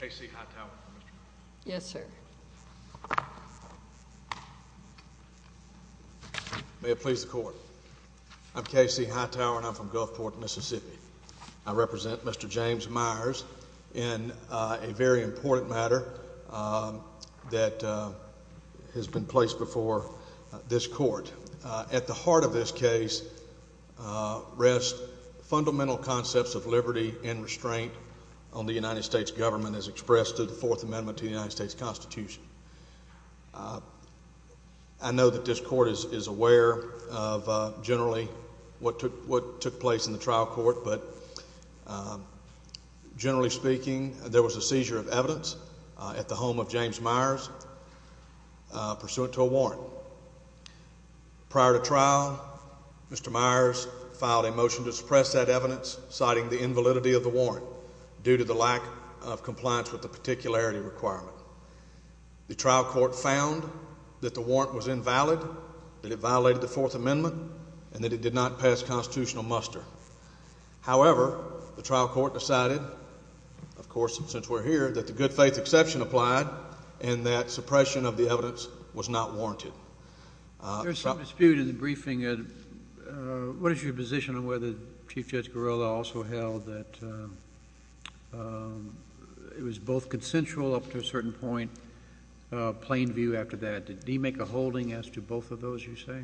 May it please the court. I'm Casey Hightower and I'm from Gulfport, Mississippi. I represent Mr. James Myers in a very important matter that has been placed before this court. At the heart of this case rest fundamental concepts of liberty and restraint on the United States government as expressed through the Fourth Amendment to the United States Constitution. I know that this court is aware of generally what took place in the trial court, but generally speaking there was a seizure of evidence at the home of James Myers pursuant to a warrant. Prior to trial Mr. Myers filed a motion to suppress that evidence citing the invalidity of the warrant due to the lack of compliance with the particularity requirement. The trial court found that the warrant was invalid, that it violated the Fourth Amendment, and that it did not pass constitutional muster. However, the trial court decided, of course since we're here, that the good faith exception applied and that suppression of the evidence was not warranted. There's some dispute in the briefing. What is your position on whether Chief Judge Gorilla also held that it was both consensual up to a certain point, plain view after that? Did he make a holding as to both of those you say?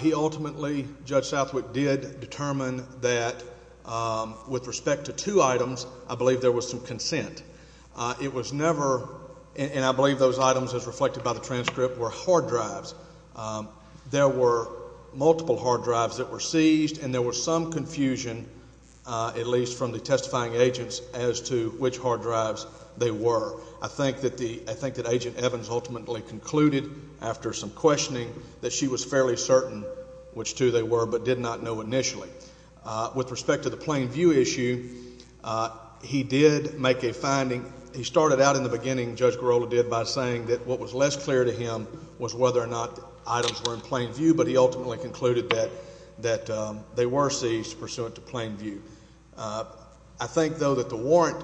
He ultimately, Judge Southwick did determine that with respect to two items I believe there was some consent. It was never, and I believe those items as reflected by the transcript were hard drives. There were multiple hard drives that were seized and there was some confusion at least from the testifying agents as to which hard drives they were. I think that the, I think that Agent Evans ultimately concluded after some questioning that she was fairly certain which two they were but did not know initially. With respect to the plain view issue, he did make a finding. He started out in the beginning, Judge Gorilla did, by saying that what was less clear to him was whether or not items were in plain view, but he ultimately concluded that they were seized pursuant to plain view. I think though that the warrant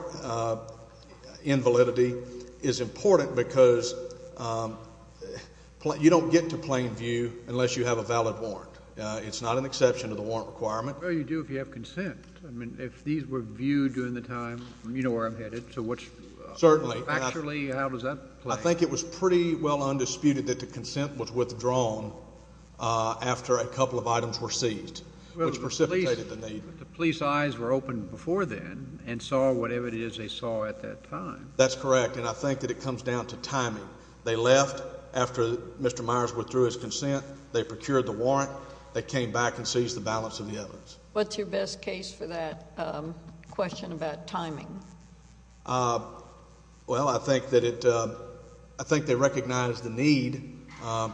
invalidity is important because you don't get to plain view unless you have a valid warrant. It's not an exception to the warrant requirement. Well, you do if you have consent. I mean, if these were viewed during the time, you know where I'm headed, so what's. Certainly. Actually, how does that play? I think it was pretty well undisputed that the consent was withdrawn after a couple of items were seized, which precipitated the need. But the police eyes were open before then and saw whatever it is they saw at that time. That's correct, and I think that it secured the warrant. They came back and seized the balance of the evidence. What's your best case for that question about timing? Well, I think that it, I think they recognized the need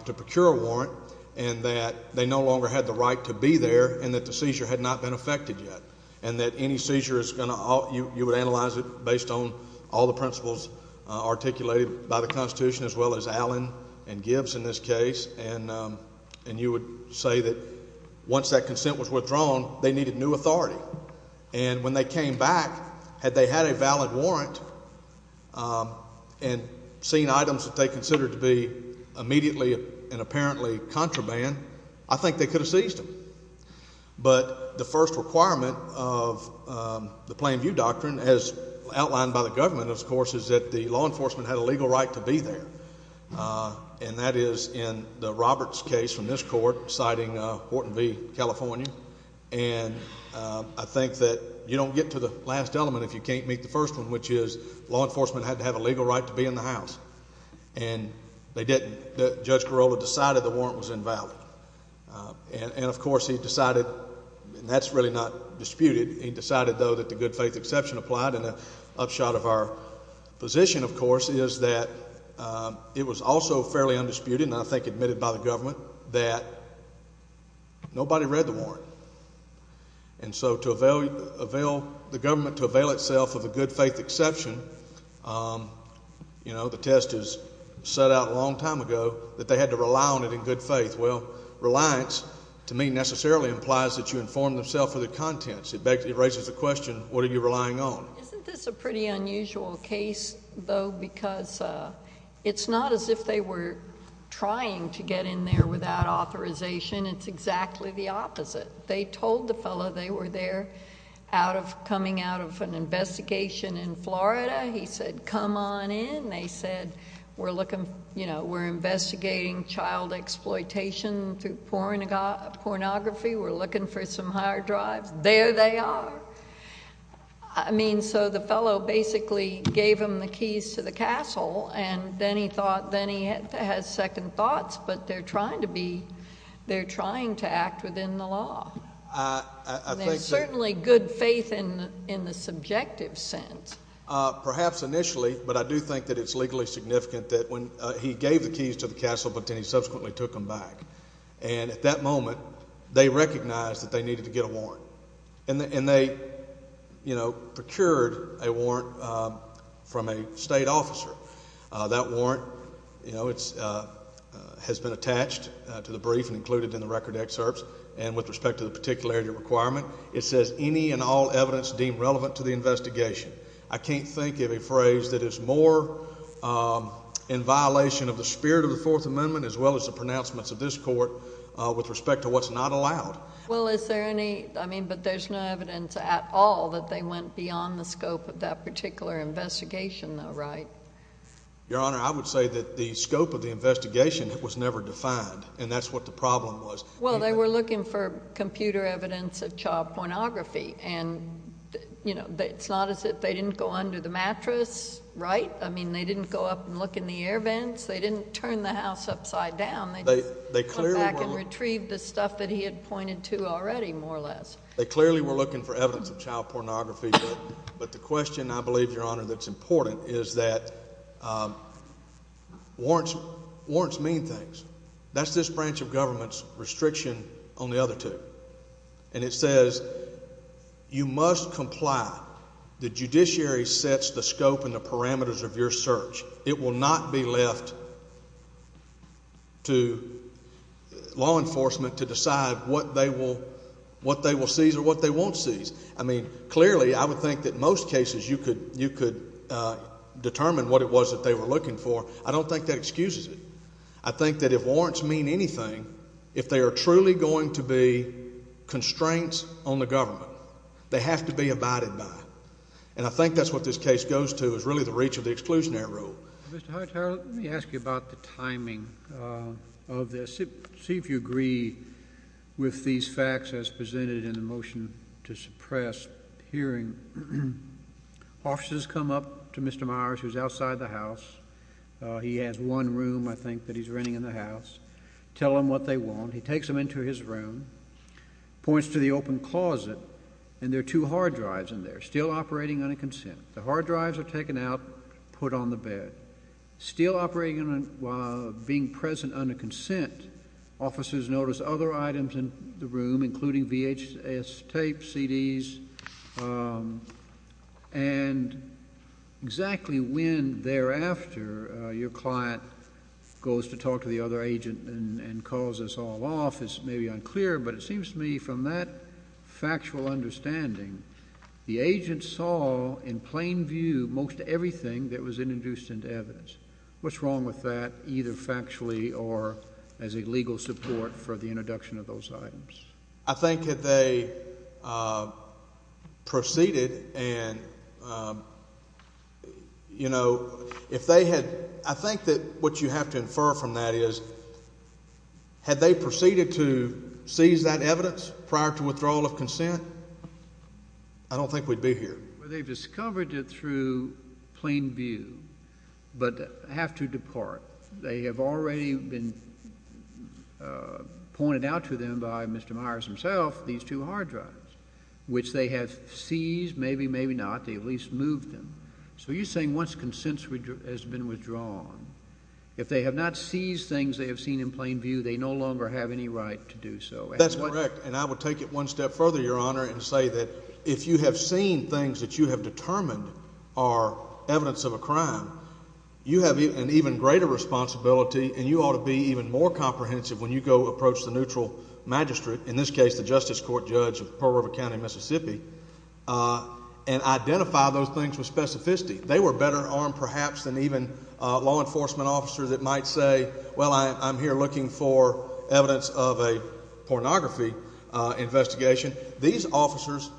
to procure a warrant and that they no longer had the right to be there and that the seizure had not been effected yet and that any seizure is going to, you would analyze it based on all the and you would say that once that consent was withdrawn, they needed new authority. And when they came back, had they had a valid warrant and seen items that they considered to be immediately and apparently contraband, I think they could have seized them. But the first requirement of the plain view doctrine, as outlined by the government, of course, is that the law enforcement had a court, citing Horton v. California, and I think that you don't get to the last element if you can't meet the first one, which is law enforcement had to have a legal right to be in the House. And they didn't. Judge Corolla decided the warrant was invalid. And of course, he decided, and that's really not disputed, he decided, though, that the good faith exception applied. And an upshot of our position, of that, it was also fairly undisputed, and I think admitted by the government, that nobody read the warrant. And so to avail the government to avail itself of a good faith exception, you know, the test is set out a long time ago that they had to rely on it in good faith. Well, reliance, to me, necessarily implies that you inform themself of the contents. It raises the question, what are you relying on? Isn't this a pretty unusual case, though, because it's not as if they were trying to get in there without authorization. It's exactly the opposite. They told the fellow they were there out of coming out of an investigation in Florida. He said, come on in. They said, we're looking, you know, we're investigating child exploitation through pornography. We're looking for some higher drives. There they are. I mean, so the fellow basically gave him the keys to the castle, and then he thought, then he had second thoughts, but they're trying to be, they're trying to act within the law. I think that. And there's certainly good faith in the subjective sense. Perhaps initially, but I do think that it's legally significant that when he gave the keys to the castle, but then he subsequently took them back. And at that moment, they recognized that they needed to get a warrant. And they, you know, procured a warrant from a state officer. That warrant, you know, has been attached to the brief and included in the record excerpts. And with respect to the particularity requirement, it says, any and all evidence deemed relevant to the investigation. I can't think of a phrase that is more in violation of the spirit of the Fourth Amendment, as well as the pronouncements of this court with respect to what's not allowed. Well, is there any I mean, but there's no evidence at all that they went beyond the scope of that particular investigation, though, right? Your Honor, I would say that the scope of the investigation was never defined, and that's what the problem was. Well, they were looking for computer evidence of child pornography. And, you know, it's not as if they didn't go under the mattress, right? I mean, they didn't go up and look in the air vents. They didn't turn the house upside down. They clearly went back and retrieved the stuff that he had pointed to already, more or less. They clearly were looking for evidence of child pornography. But the question, I believe, Your Honor, that's important is that warrants mean things. That's this branch of government's restriction on the other two. And it says you must comply. The judiciary sets the scope and the parameters of your search. It will not be left to law enforcement to decide what they will seize or what they won't seize. I mean, clearly, I would think that most cases you could determine what it was that they were looking for. I don't think that excuses it. I think that if warrants mean anything, if they are truly going to be constraints on the government, they have to be abided by. And I think that's what this case goes to, is really the reach of the exclusionary rule. Mr. Hightower, let me ask you about the timing of this. See if you agree with these facts as presented in the motion to suppress hearing. Officers come up to Mr. Myers, who's outside the house. He has one room, I think, that he's renting in the house. Tell him what they want. He takes them into his room, points to the open closet, and there are two hard drives in there still operating on a consent. The hard drives are taken out, put on the bed, still operating and being present under consent. Officers notice other items in the room, including VHS tapes, CDs. And exactly when thereafter your client goes to talk to the other agent and calls us all off is maybe unclear, but it seems to me from that factual understanding, the agent saw in plain view most everything that was introduced into evidence. What's wrong with that, either factually or as a legal support for the introduction of those items? I think if they proceeded and, you know, if they had, I think that what you have to infer from that is, had they proceeded to seize that evidence prior to withdrawal of consent, I don't think we'd be here. Well, they've discovered it through plain view, but have to depart. They have already been pointed out to them by Mr. Myers himself, these two hard drives, which they have seized. Maybe, maybe not. They at least moved them. So you're saying once consent has been withdrawn, if they have not seized things they have seen in plain view, they no longer have any right to do so. That's correct. And I would take it one step further, Your Honor, and say that if you have seen things that you have determined are evidence of a crime, you have an even greater responsibility and you ought to be even more comprehensive when you go approach the neutral magistrate, in this case the Justice Court judge of Pearl River County, Mississippi, and identify those things with specificity. They were better armed, perhaps, than even law enforcement officers that might say, well, I'm here looking for evidence of a pornography investigation. These officers,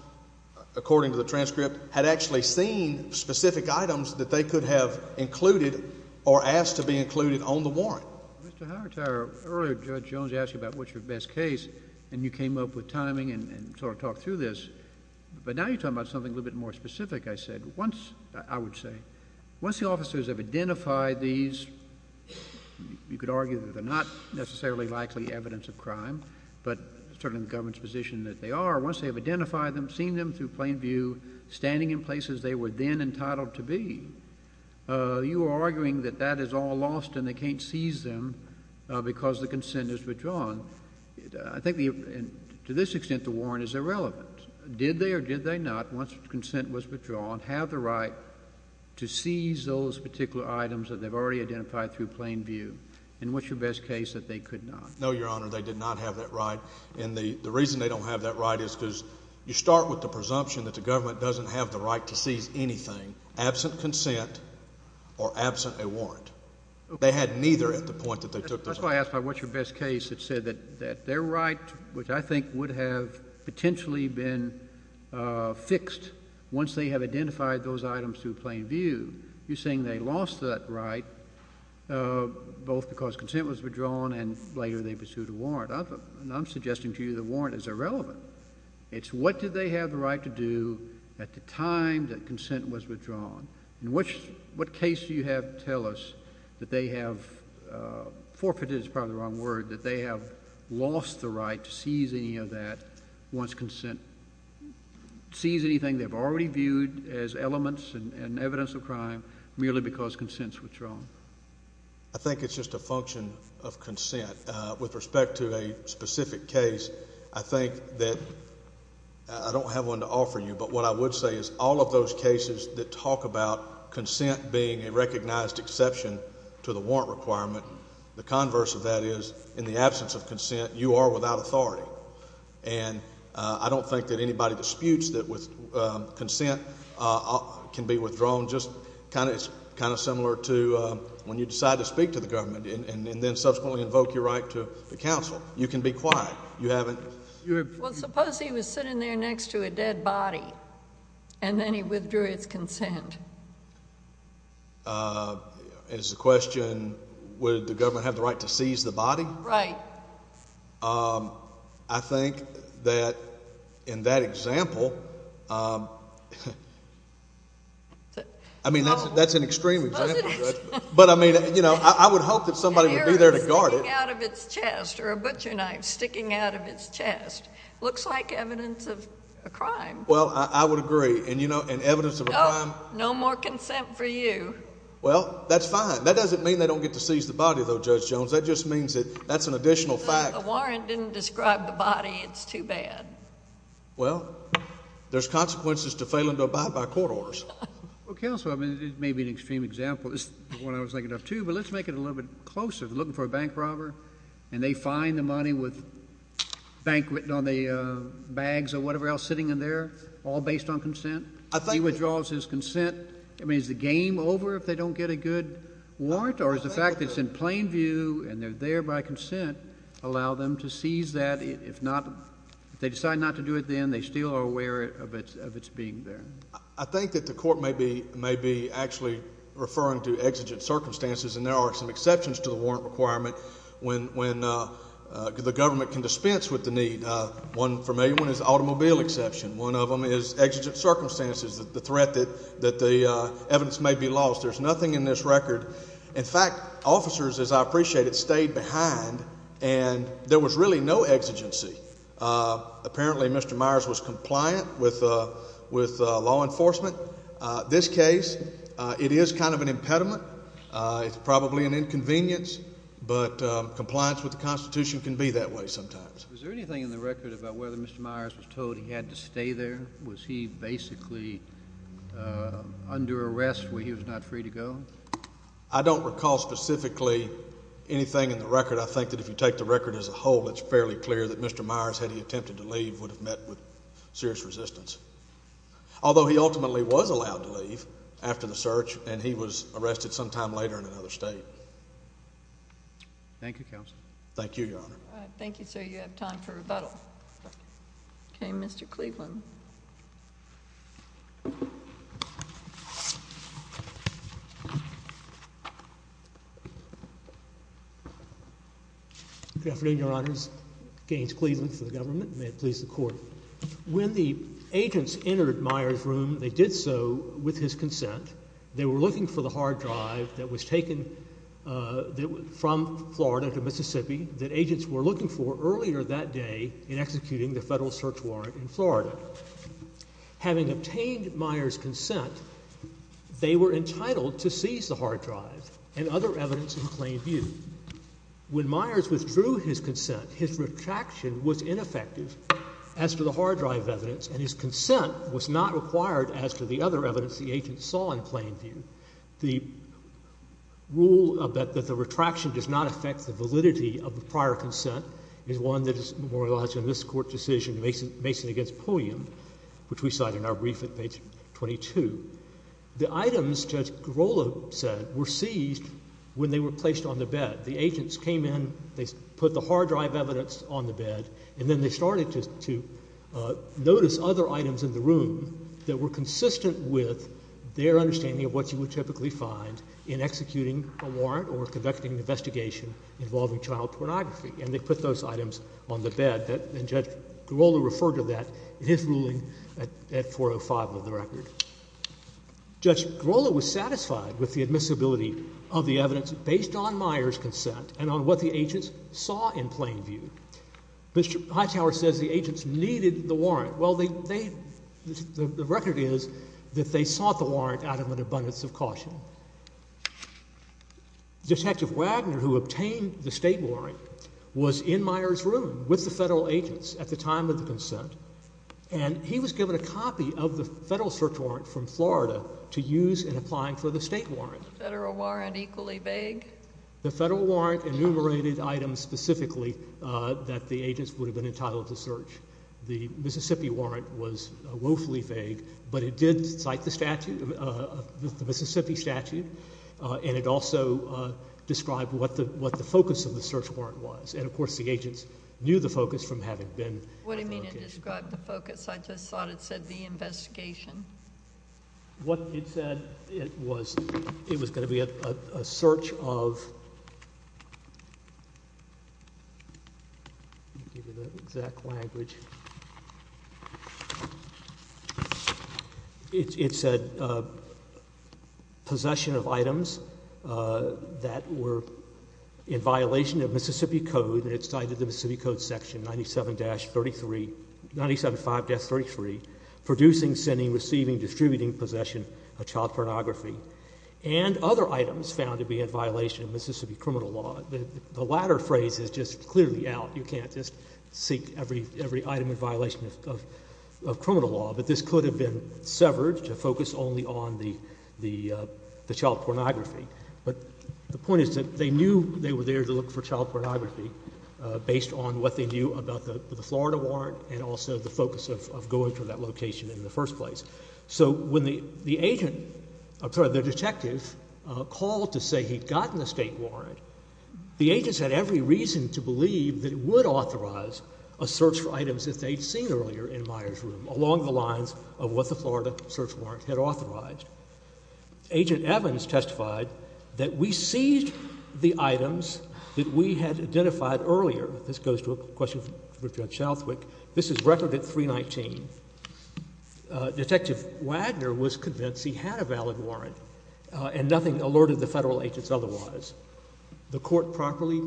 according to the transcript, had actually seen specific items that they could have included or asked to be included on the warrant. Mr. Hightower, earlier Judge Jones asked you about what's your best case, and you came up with timing and sort of talked through this. But now you're talking about something a little bit more specific. I said once, I would say, once the officers have identified these, you could argue that they're not necessarily likely evidence of crime, but certainly in the government's position that they are, once they have identified them, seen them through plain view, standing in places they were then entitled to be, you are arguing that that is all lost and they can't seize them because the consent is withdrawn. I think to this extent the warrant is irrelevant. Did they or did they not, once consent was withdrawn, have the right to seize those particular items that they've already identified through plain view? And what's your best case that they could not? No, Your Honor, they did not have that right. And the reason they don't have that right is because you start with the presumption that the government doesn't have the right to seize anything absent consent or absent a warrant. They had neither at the point that they took this. That's why I asked about what's your best case that said that their right, which I think would have potentially been fixed once they have identified those items through plain view. You're saying they lost that right both because consent was withdrawn and later they pursued a warrant. I'm suggesting to you the warrant is irrelevant. It's what did they have the right to do at the time that consent was withdrawn. In which, what case do you have to tell us that they have forfeited, it's probably the wrong word, that they have lost the right to seize any of that once consent, seize anything they've already viewed as elements and evidence of crime merely because consent was withdrawn? I think it's just a function of consent. With respect to a specific case, I think that I don't have one to offer you. But what I would say is all of those cases that talk about consent being a recognized exception to the warrant requirement, the converse of that is in the absence of consent, you are without authority. And I don't think that anybody disputes that consent can be withdrawn. It's kind of similar to when you decide to speak to the government and then subsequently invoke your right to counsel. You can be quiet. You haven't. Well, suppose he was sitting there next to a dead body and then he withdrew his consent. It's a question, would the government have the right to seize the body? Right. I think that in that example, I mean, that's an extreme example, Judge, but I mean, you know, I would hope that somebody would be there to guard it. A spear sticking out of its chest or a butcher knife sticking out of its chest looks like evidence of a crime. Well, I would agree. And, you know, and evidence of a crime. No more consent for you. Well, that's fine. That doesn't mean they don't get to seize the body, though, Judge Jones. That just means that that's an additional fact. The warrant didn't describe the body. It's too bad. Well, there's consequences to failing to abide by court orders. Well, counsel, I mean, it may be an extreme example. It's what I was thinking of, too. But let's make it a little bit closer to looking for a bank robber and they find the money with bank written on the bags or whatever else sitting in there, all based on consent. I think he withdraws his consent. I mean, is the game over if they don't get a good warrant or is the fact that it's in plain view and they're there by consent allow them to seize that? If not, if they decide not to do it, then they still are aware of its being there. I think that the court may be actually referring to exigent circumstances. And there are some exceptions to the warrant requirement when the government can dispense with the need. One familiar one is automobile exception. One of them is exigent circumstances, the threat that the evidence may be lost. There's nothing in this record. In fact, officers, as I appreciate it, stayed behind and there was really no exigency. Apparently, Mr. Myers was compliant with law enforcement. This case, it is kind of an impediment. It's probably an inconvenience. But compliance with the Constitution can be that way sometimes. Was there anything in the record about whether Mr. Myers was told he had to stay there? Was he basically under arrest where he was not free to go? I don't recall specifically anything in the record. I think that if you take the record as a whole, it's fairly clear that Mr. Myers, had he attempted to leave, would have met with serious resistance. Although he ultimately was allowed to leave after the search and he was arrested sometime later in another state. Thank you, Counsel. Thank you, Your Honor. Thank you, sir. You have time for rebuttal. Okay, Mr. Cleveland. Good afternoon, Your Honors. Gaines Cleveland for the government. May it please the Court. When the agents entered Myers' room, they did so with his consent. They were looking for the hard drive that was taken from Florida to Mississippi, that agents were looking for earlier that day in executing the federal search warrant in Florida. Having obtained Myers' consent, they were entitled to seize the hard drive and other evidence in plain view. When Myers withdrew his consent, his retraction was ineffective as to the hard drive evidence, and his consent was not required as to the other evidence the agents saw in plain view. The rule that the retraction does not affect the validity of the prior consent is one that is memorialized in this Court decision, Mason against Pulliam, which we cite in our brief at page 22. The items Judge Garola said were seized when they were placed on the bed. The agents came in, they put the hard drive evidence on the bed, and then they started to notice other items in the room that were consistent with their understanding of what you would typically find in executing a warrant or conducting an investigation involving child pornography, and they put those items on the bed. And Judge Garola referred to that in his ruling at 405 of the record. Judge Garola was satisfied with the admissibility of the evidence based on Myers' consent and on what the agents saw in plain view. Mr. Hightower says the agents needed the warrant. Well, the record is that they sought the warrant out of an abundance of caution. Detective Wagner, who obtained the state warrant, was in Myers' room with the federal agents at the time of the consent. And he was given a copy of the federal search warrant from Florida to use in applying for the state warrant. Is the federal warrant equally vague? The federal warrant enumerated items specifically that the agents would have been entitled to search. The Mississippi warrant was woefully vague, but it did cite the Mississippi statute. And it also described what the focus of the search warrant was. And of course, the agents knew the focus from having been- What do you mean it described the focus? I just thought it said the investigation. What it said, it was going to be a search of- Let me give you the exact language. It said possession of items that were in violation of Mississippi Code. And it cited the Mississippi Code section 97-33, producing, sending, receiving, distributing possession of child pornography. And other items found to be in violation of Mississippi criminal law. The latter phrase is just clearly out. You can't just seek every item in violation of criminal law. But this could have been severed to focus only on the child pornography. But the point is that they knew they were there to look for child pornography, based on what they knew about the Florida warrant, and also the focus of going to that location in the first place. So when the agent, I'm sorry, the detective called to say he'd gotten the state warrant, the agents had every reason to believe that it would authorize a search for items that they'd seen earlier in Meyer's room, Agent Evans testified that we seized the items that we had identified earlier. This goes to a question for Judge Shouthwick. This is record at 319. Detective Wagner was convinced he had a valid warrant, and nothing alerted the federal agents otherwise. The court properly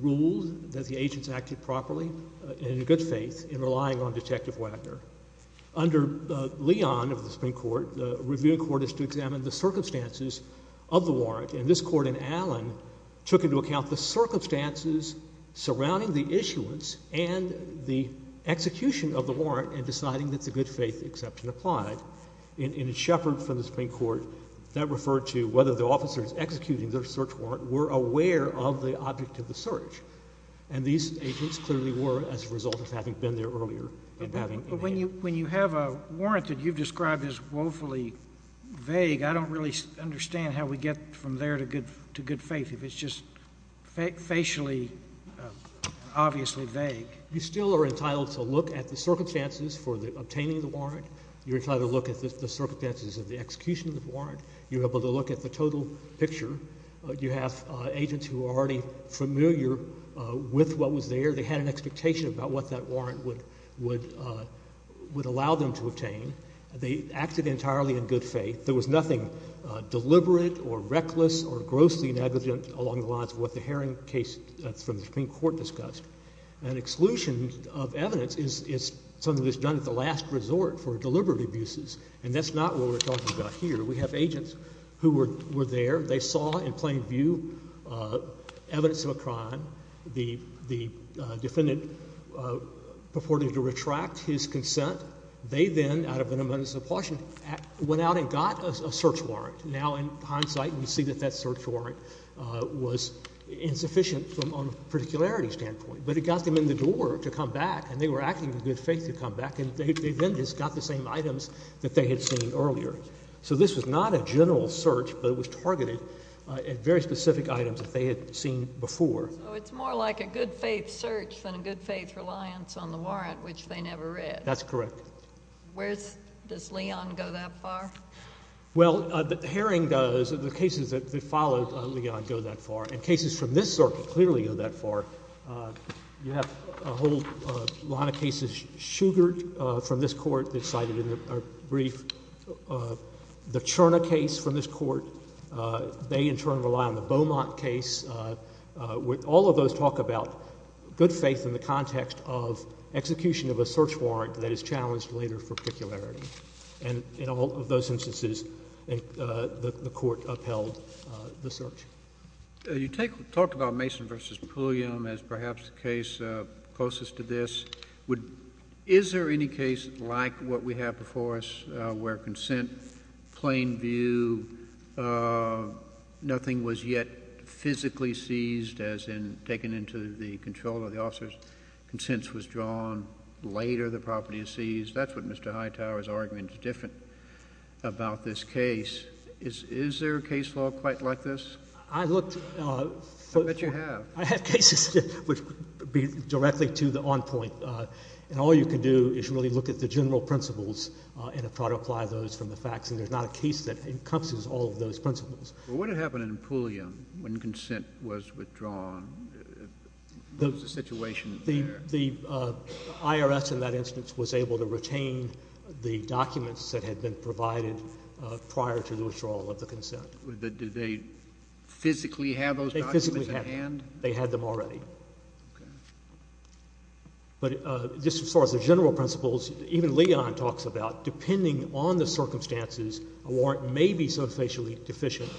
ruled that the agents acted properly and in good faith in relying on Detective Wagner. Under Leon of the Supreme Court, the review court is to examine the circumstances of the warrant, and this court in Allen took into account the circumstances surrounding the issuance and the execution of the warrant in deciding that the good faith exception applied. In Shepard from the Supreme Court, that referred to whether the officers executing their search warrant were aware of the object of the search. And these agents clearly were, as a result of having been there earlier. But when you have a warrant that you've described as woefully vague, I don't really understand how we get from there to good faith, if it's just facially obviously vague. You still are entitled to look at the circumstances for obtaining the warrant. You're entitled to look at the circumstances of the execution of the warrant. You're able to look at the total picture. You have agents who are already familiar with what was there. They had an expectation about what that warrant would allow them to obtain. They acted entirely in good faith. There was nothing deliberate or reckless or grossly negligent along the lines of what the Herring case from the Supreme Court discussed. An exclusion of evidence is something that's done at the last resort for deliberate abuses, and that's not what we're talking about here. We have agents who were there. They saw in plain view evidence of a crime. The defendant purported to retract his consent. They then, out of an amendment of supportion, went out and got a search warrant. Now, in hindsight, we see that that search warrant was insufficient from a particularity standpoint. But it got them in the door to come back, and they were acting in good faith to come back, and they then just got the same items that they had seen earlier. So this was not a general search, but it was targeted at very specific items that they had seen before. So it's more like a good faith search than a good faith reliance on the warrant, which they never read. That's correct. Where's—does Leon go that far? Well, Herring does. The cases that followed Leon go that far. And cases from this circuit clearly go that far. You have a whole lot of cases sugared from this court that's cited in a brief. The Cherna case from this court, they in turn rely on the Beaumont case. All of those talk about good faith in the context of execution of a search warrant that is challenged later for particularity. And in all of those instances, the court upheld the search. You talked about Mason v. Pulliam as perhaps the case closest to this. Is there any case like what we have before us where consent, plain view, nothing was yet physically seized as in taken into the control of the officer's, consents was drawn, later the property is seized? That's what Mr. Hightower's argument is different about this case. Is there a case law quite like this? I looked— I bet you have. I have cases that would be directly to the on point. And all you can do is really look at the general principles and try to apply those from the facts. And there's not a case that encompasses all of those principles. Well, what had happened in Pulliam when consent was withdrawn? What was the situation there? The IRS in that instance was able to retain the documents that had been provided prior to the withdrawal of the consent. Did they physically have those documents in hand? They physically had them. They had them already. Okay. But just as far as the general principles, even Leon talks about depending on the circumstances, a warrant may be so facially deficient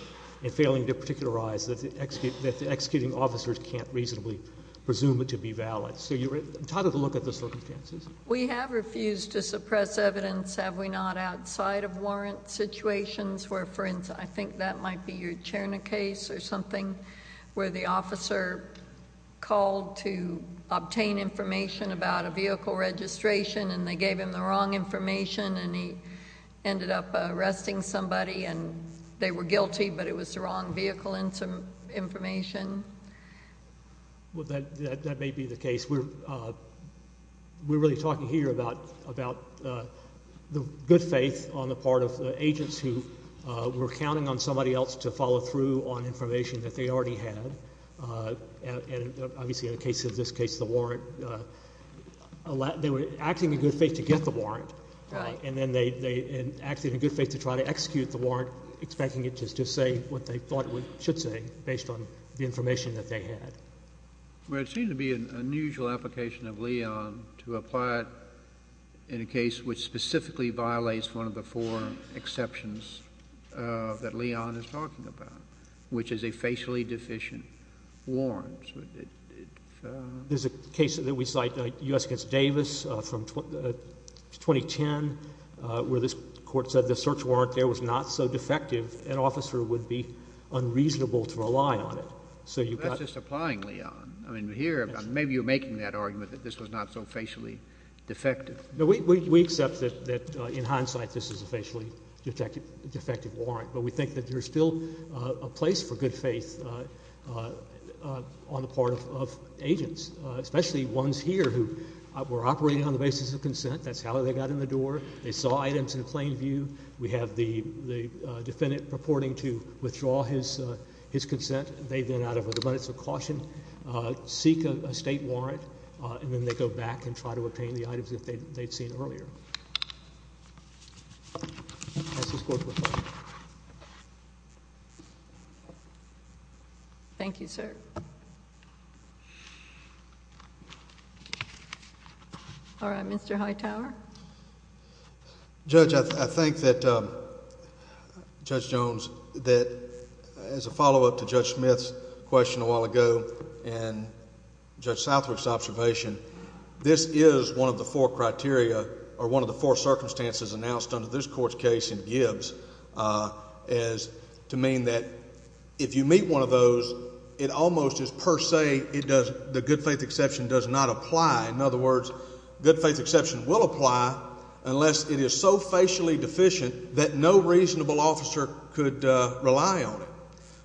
and failing to particularize that the executing officers can't reasonably presume it to be valid. So you're entitled to look at the circumstances. We have refused to suppress evidence, have we not, outside of warrant situations where, for instance, I think that might be your Cherna case or something where the officer called to obtain information about a vehicle registration and they gave him the wrong information and he ended up arresting somebody and they were guilty but it was the wrong vehicle information. Well, that may be the case. We're really talking here about the good faith on the part of agents who were counting on somebody else to follow through on information that they already had. And obviously in the case of this case, the warrant, they were acting in good faith to get the warrant. Right. And then they acted in good faith to try to execute the warrant expecting it to just say what they thought it should say based on the information that they had. Well, it seemed to be an unusual application of Leon to apply it in a case which specifically violates one of the four exceptions that Leon is talking about, which is a facially deficient warrant. There's a case that we cite, U.S. v. Davis from 2010, where this court said the search warrant there was not so defective, an officer would be unreasonable to rely on it. That's just applying Leon. Maybe you're making that argument that this was not so facially defective. We accept that in hindsight this is a facially defective warrant, but we think that there's still a place for good faith on the part of agents, especially ones here who were operating on the basis of consent. That's how they got in the door. They saw items in plain view. We have the defendant purporting to withdraw his consent. They then, out of the limits of caution, seek a state warrant, and then they go back and try to obtain the items that they'd seen earlier. That's this court report. Thank you, sir. All right, Mr. Hightower. Judge, I think that, Judge Jones, that as a follow-up to Judge Smith's question a while ago and Judge Southwick's observation, this is one of the four criteria or one of the four circumstances announced under this court's case in Gibbs is to mean that if you meet one of those, it almost is per se the good faith exception does not apply. In other words, good faith exception will apply unless it is so facially deficient that no reasonable officer could rely on it.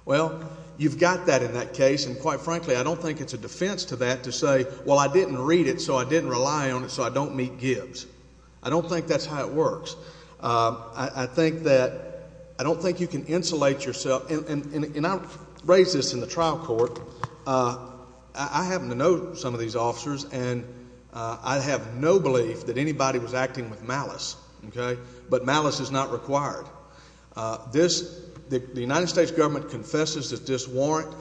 Well, you've got that in that case, and quite frankly, I don't think it's a defense to that to say, well, I didn't read it, so I didn't rely on it, so I don't meet Gibbs. I don't think that's how it works. I think that I don't think you can insulate yourself. And I raised this in the trial court. I happen to know some of these officers, and I have no belief that anybody was acting with malice. But malice is not required. The United States government confesses that this warrant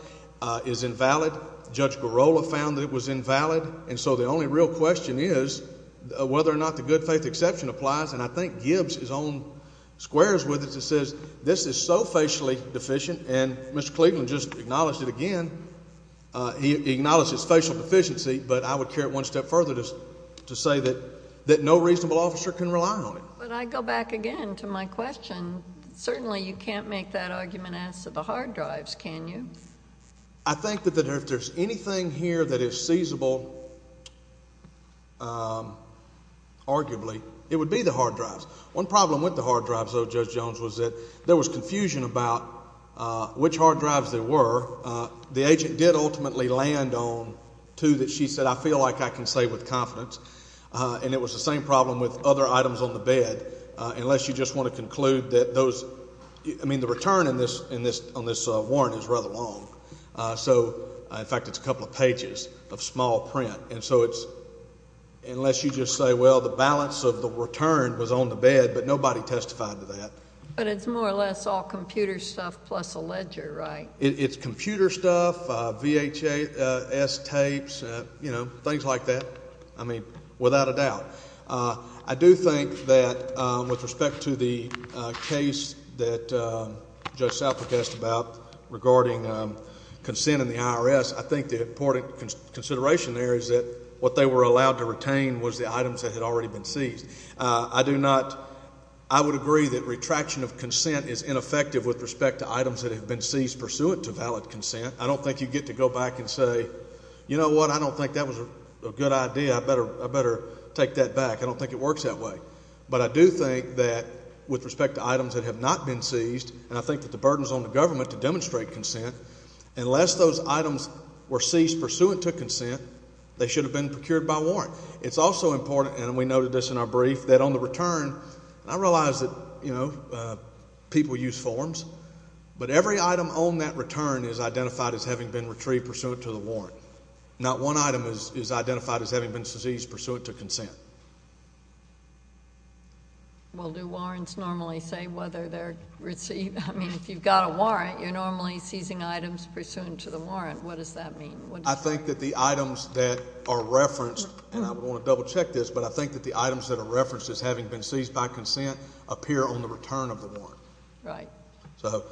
is invalid. Judge Girola found that it was invalid. And so the only real question is whether or not the good faith exception applies, and I think Gibbs is on squares with us and says this is so facially deficient, and Mr. Cleveland just acknowledged it again. He acknowledged his facial deficiency, but I would carry it one step further to say that no reasonable officer can rely on it. But I go back again to my question. Certainly you can't make that argument as to the hard drives, can you? I think that if there's anything here that is seizable, arguably, it would be the hard drives. One problem with the hard drives, though, Judge Jones, was that there was confusion about which hard drives there were. The agent did ultimately land on two that she said, I feel like I can say with confidence, and it was the same problem with other items on the bed, unless you just want to conclude that those ‑‑ So, in fact, it's a couple of pages of small print. And so it's, unless you just say, well, the balance of the return was on the bed, but nobody testified to that. But it's more or less all computer stuff plus a ledger, right? It's computer stuff, VHS tapes, you know, things like that. I mean, without a doubt. I do think that with respect to the case that Judge Southern asked about regarding consent in the IRS, I think the important consideration there is that what they were allowed to retain was the items that had already been seized. I do not ‑‑ I would agree that retraction of consent is ineffective with respect to items that have been seized pursuant to valid consent. I don't think you get to go back and say, you know what, I don't think that was a good idea. I better take that back. I don't think it works that way. But I do think that with respect to items that have not been seized, and I think that the burden is on the government to demonstrate consent, unless those items were seized pursuant to consent, they should have been procured by warrant. It's also important, and we noted this in our brief, that on the return, I realize that, you know, people use forms, but every item on that return is identified as having been retrieved pursuant to the warrant. So not one item is identified as having been seized pursuant to consent. Well, do warrants normally say whether they're received? I mean, if you've got a warrant, you're normally seizing items pursuant to the warrant. What does that mean? I think that the items that are referenced, and I want to double check this, but I think that the items that are referenced as having been seized by consent appear on the return of the warrant. Right. So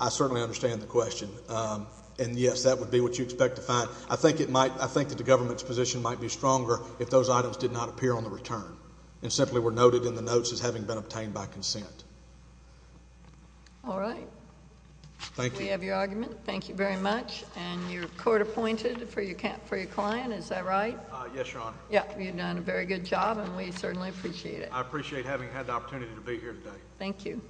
I certainly understand the question. And, yes, that would be what you expect to find. I think that the government's position might be stronger if those items did not appear on the return and simply were noted in the notes as having been obtained by consent. All right. Thank you. We have your argument. Thank you very much. And you're court-appointed for your client, is that right? Yes, Your Honor. Yeah, you've done a very good job, and we certainly appreciate it. I appreciate having had the opportunity to be here today. Thank you.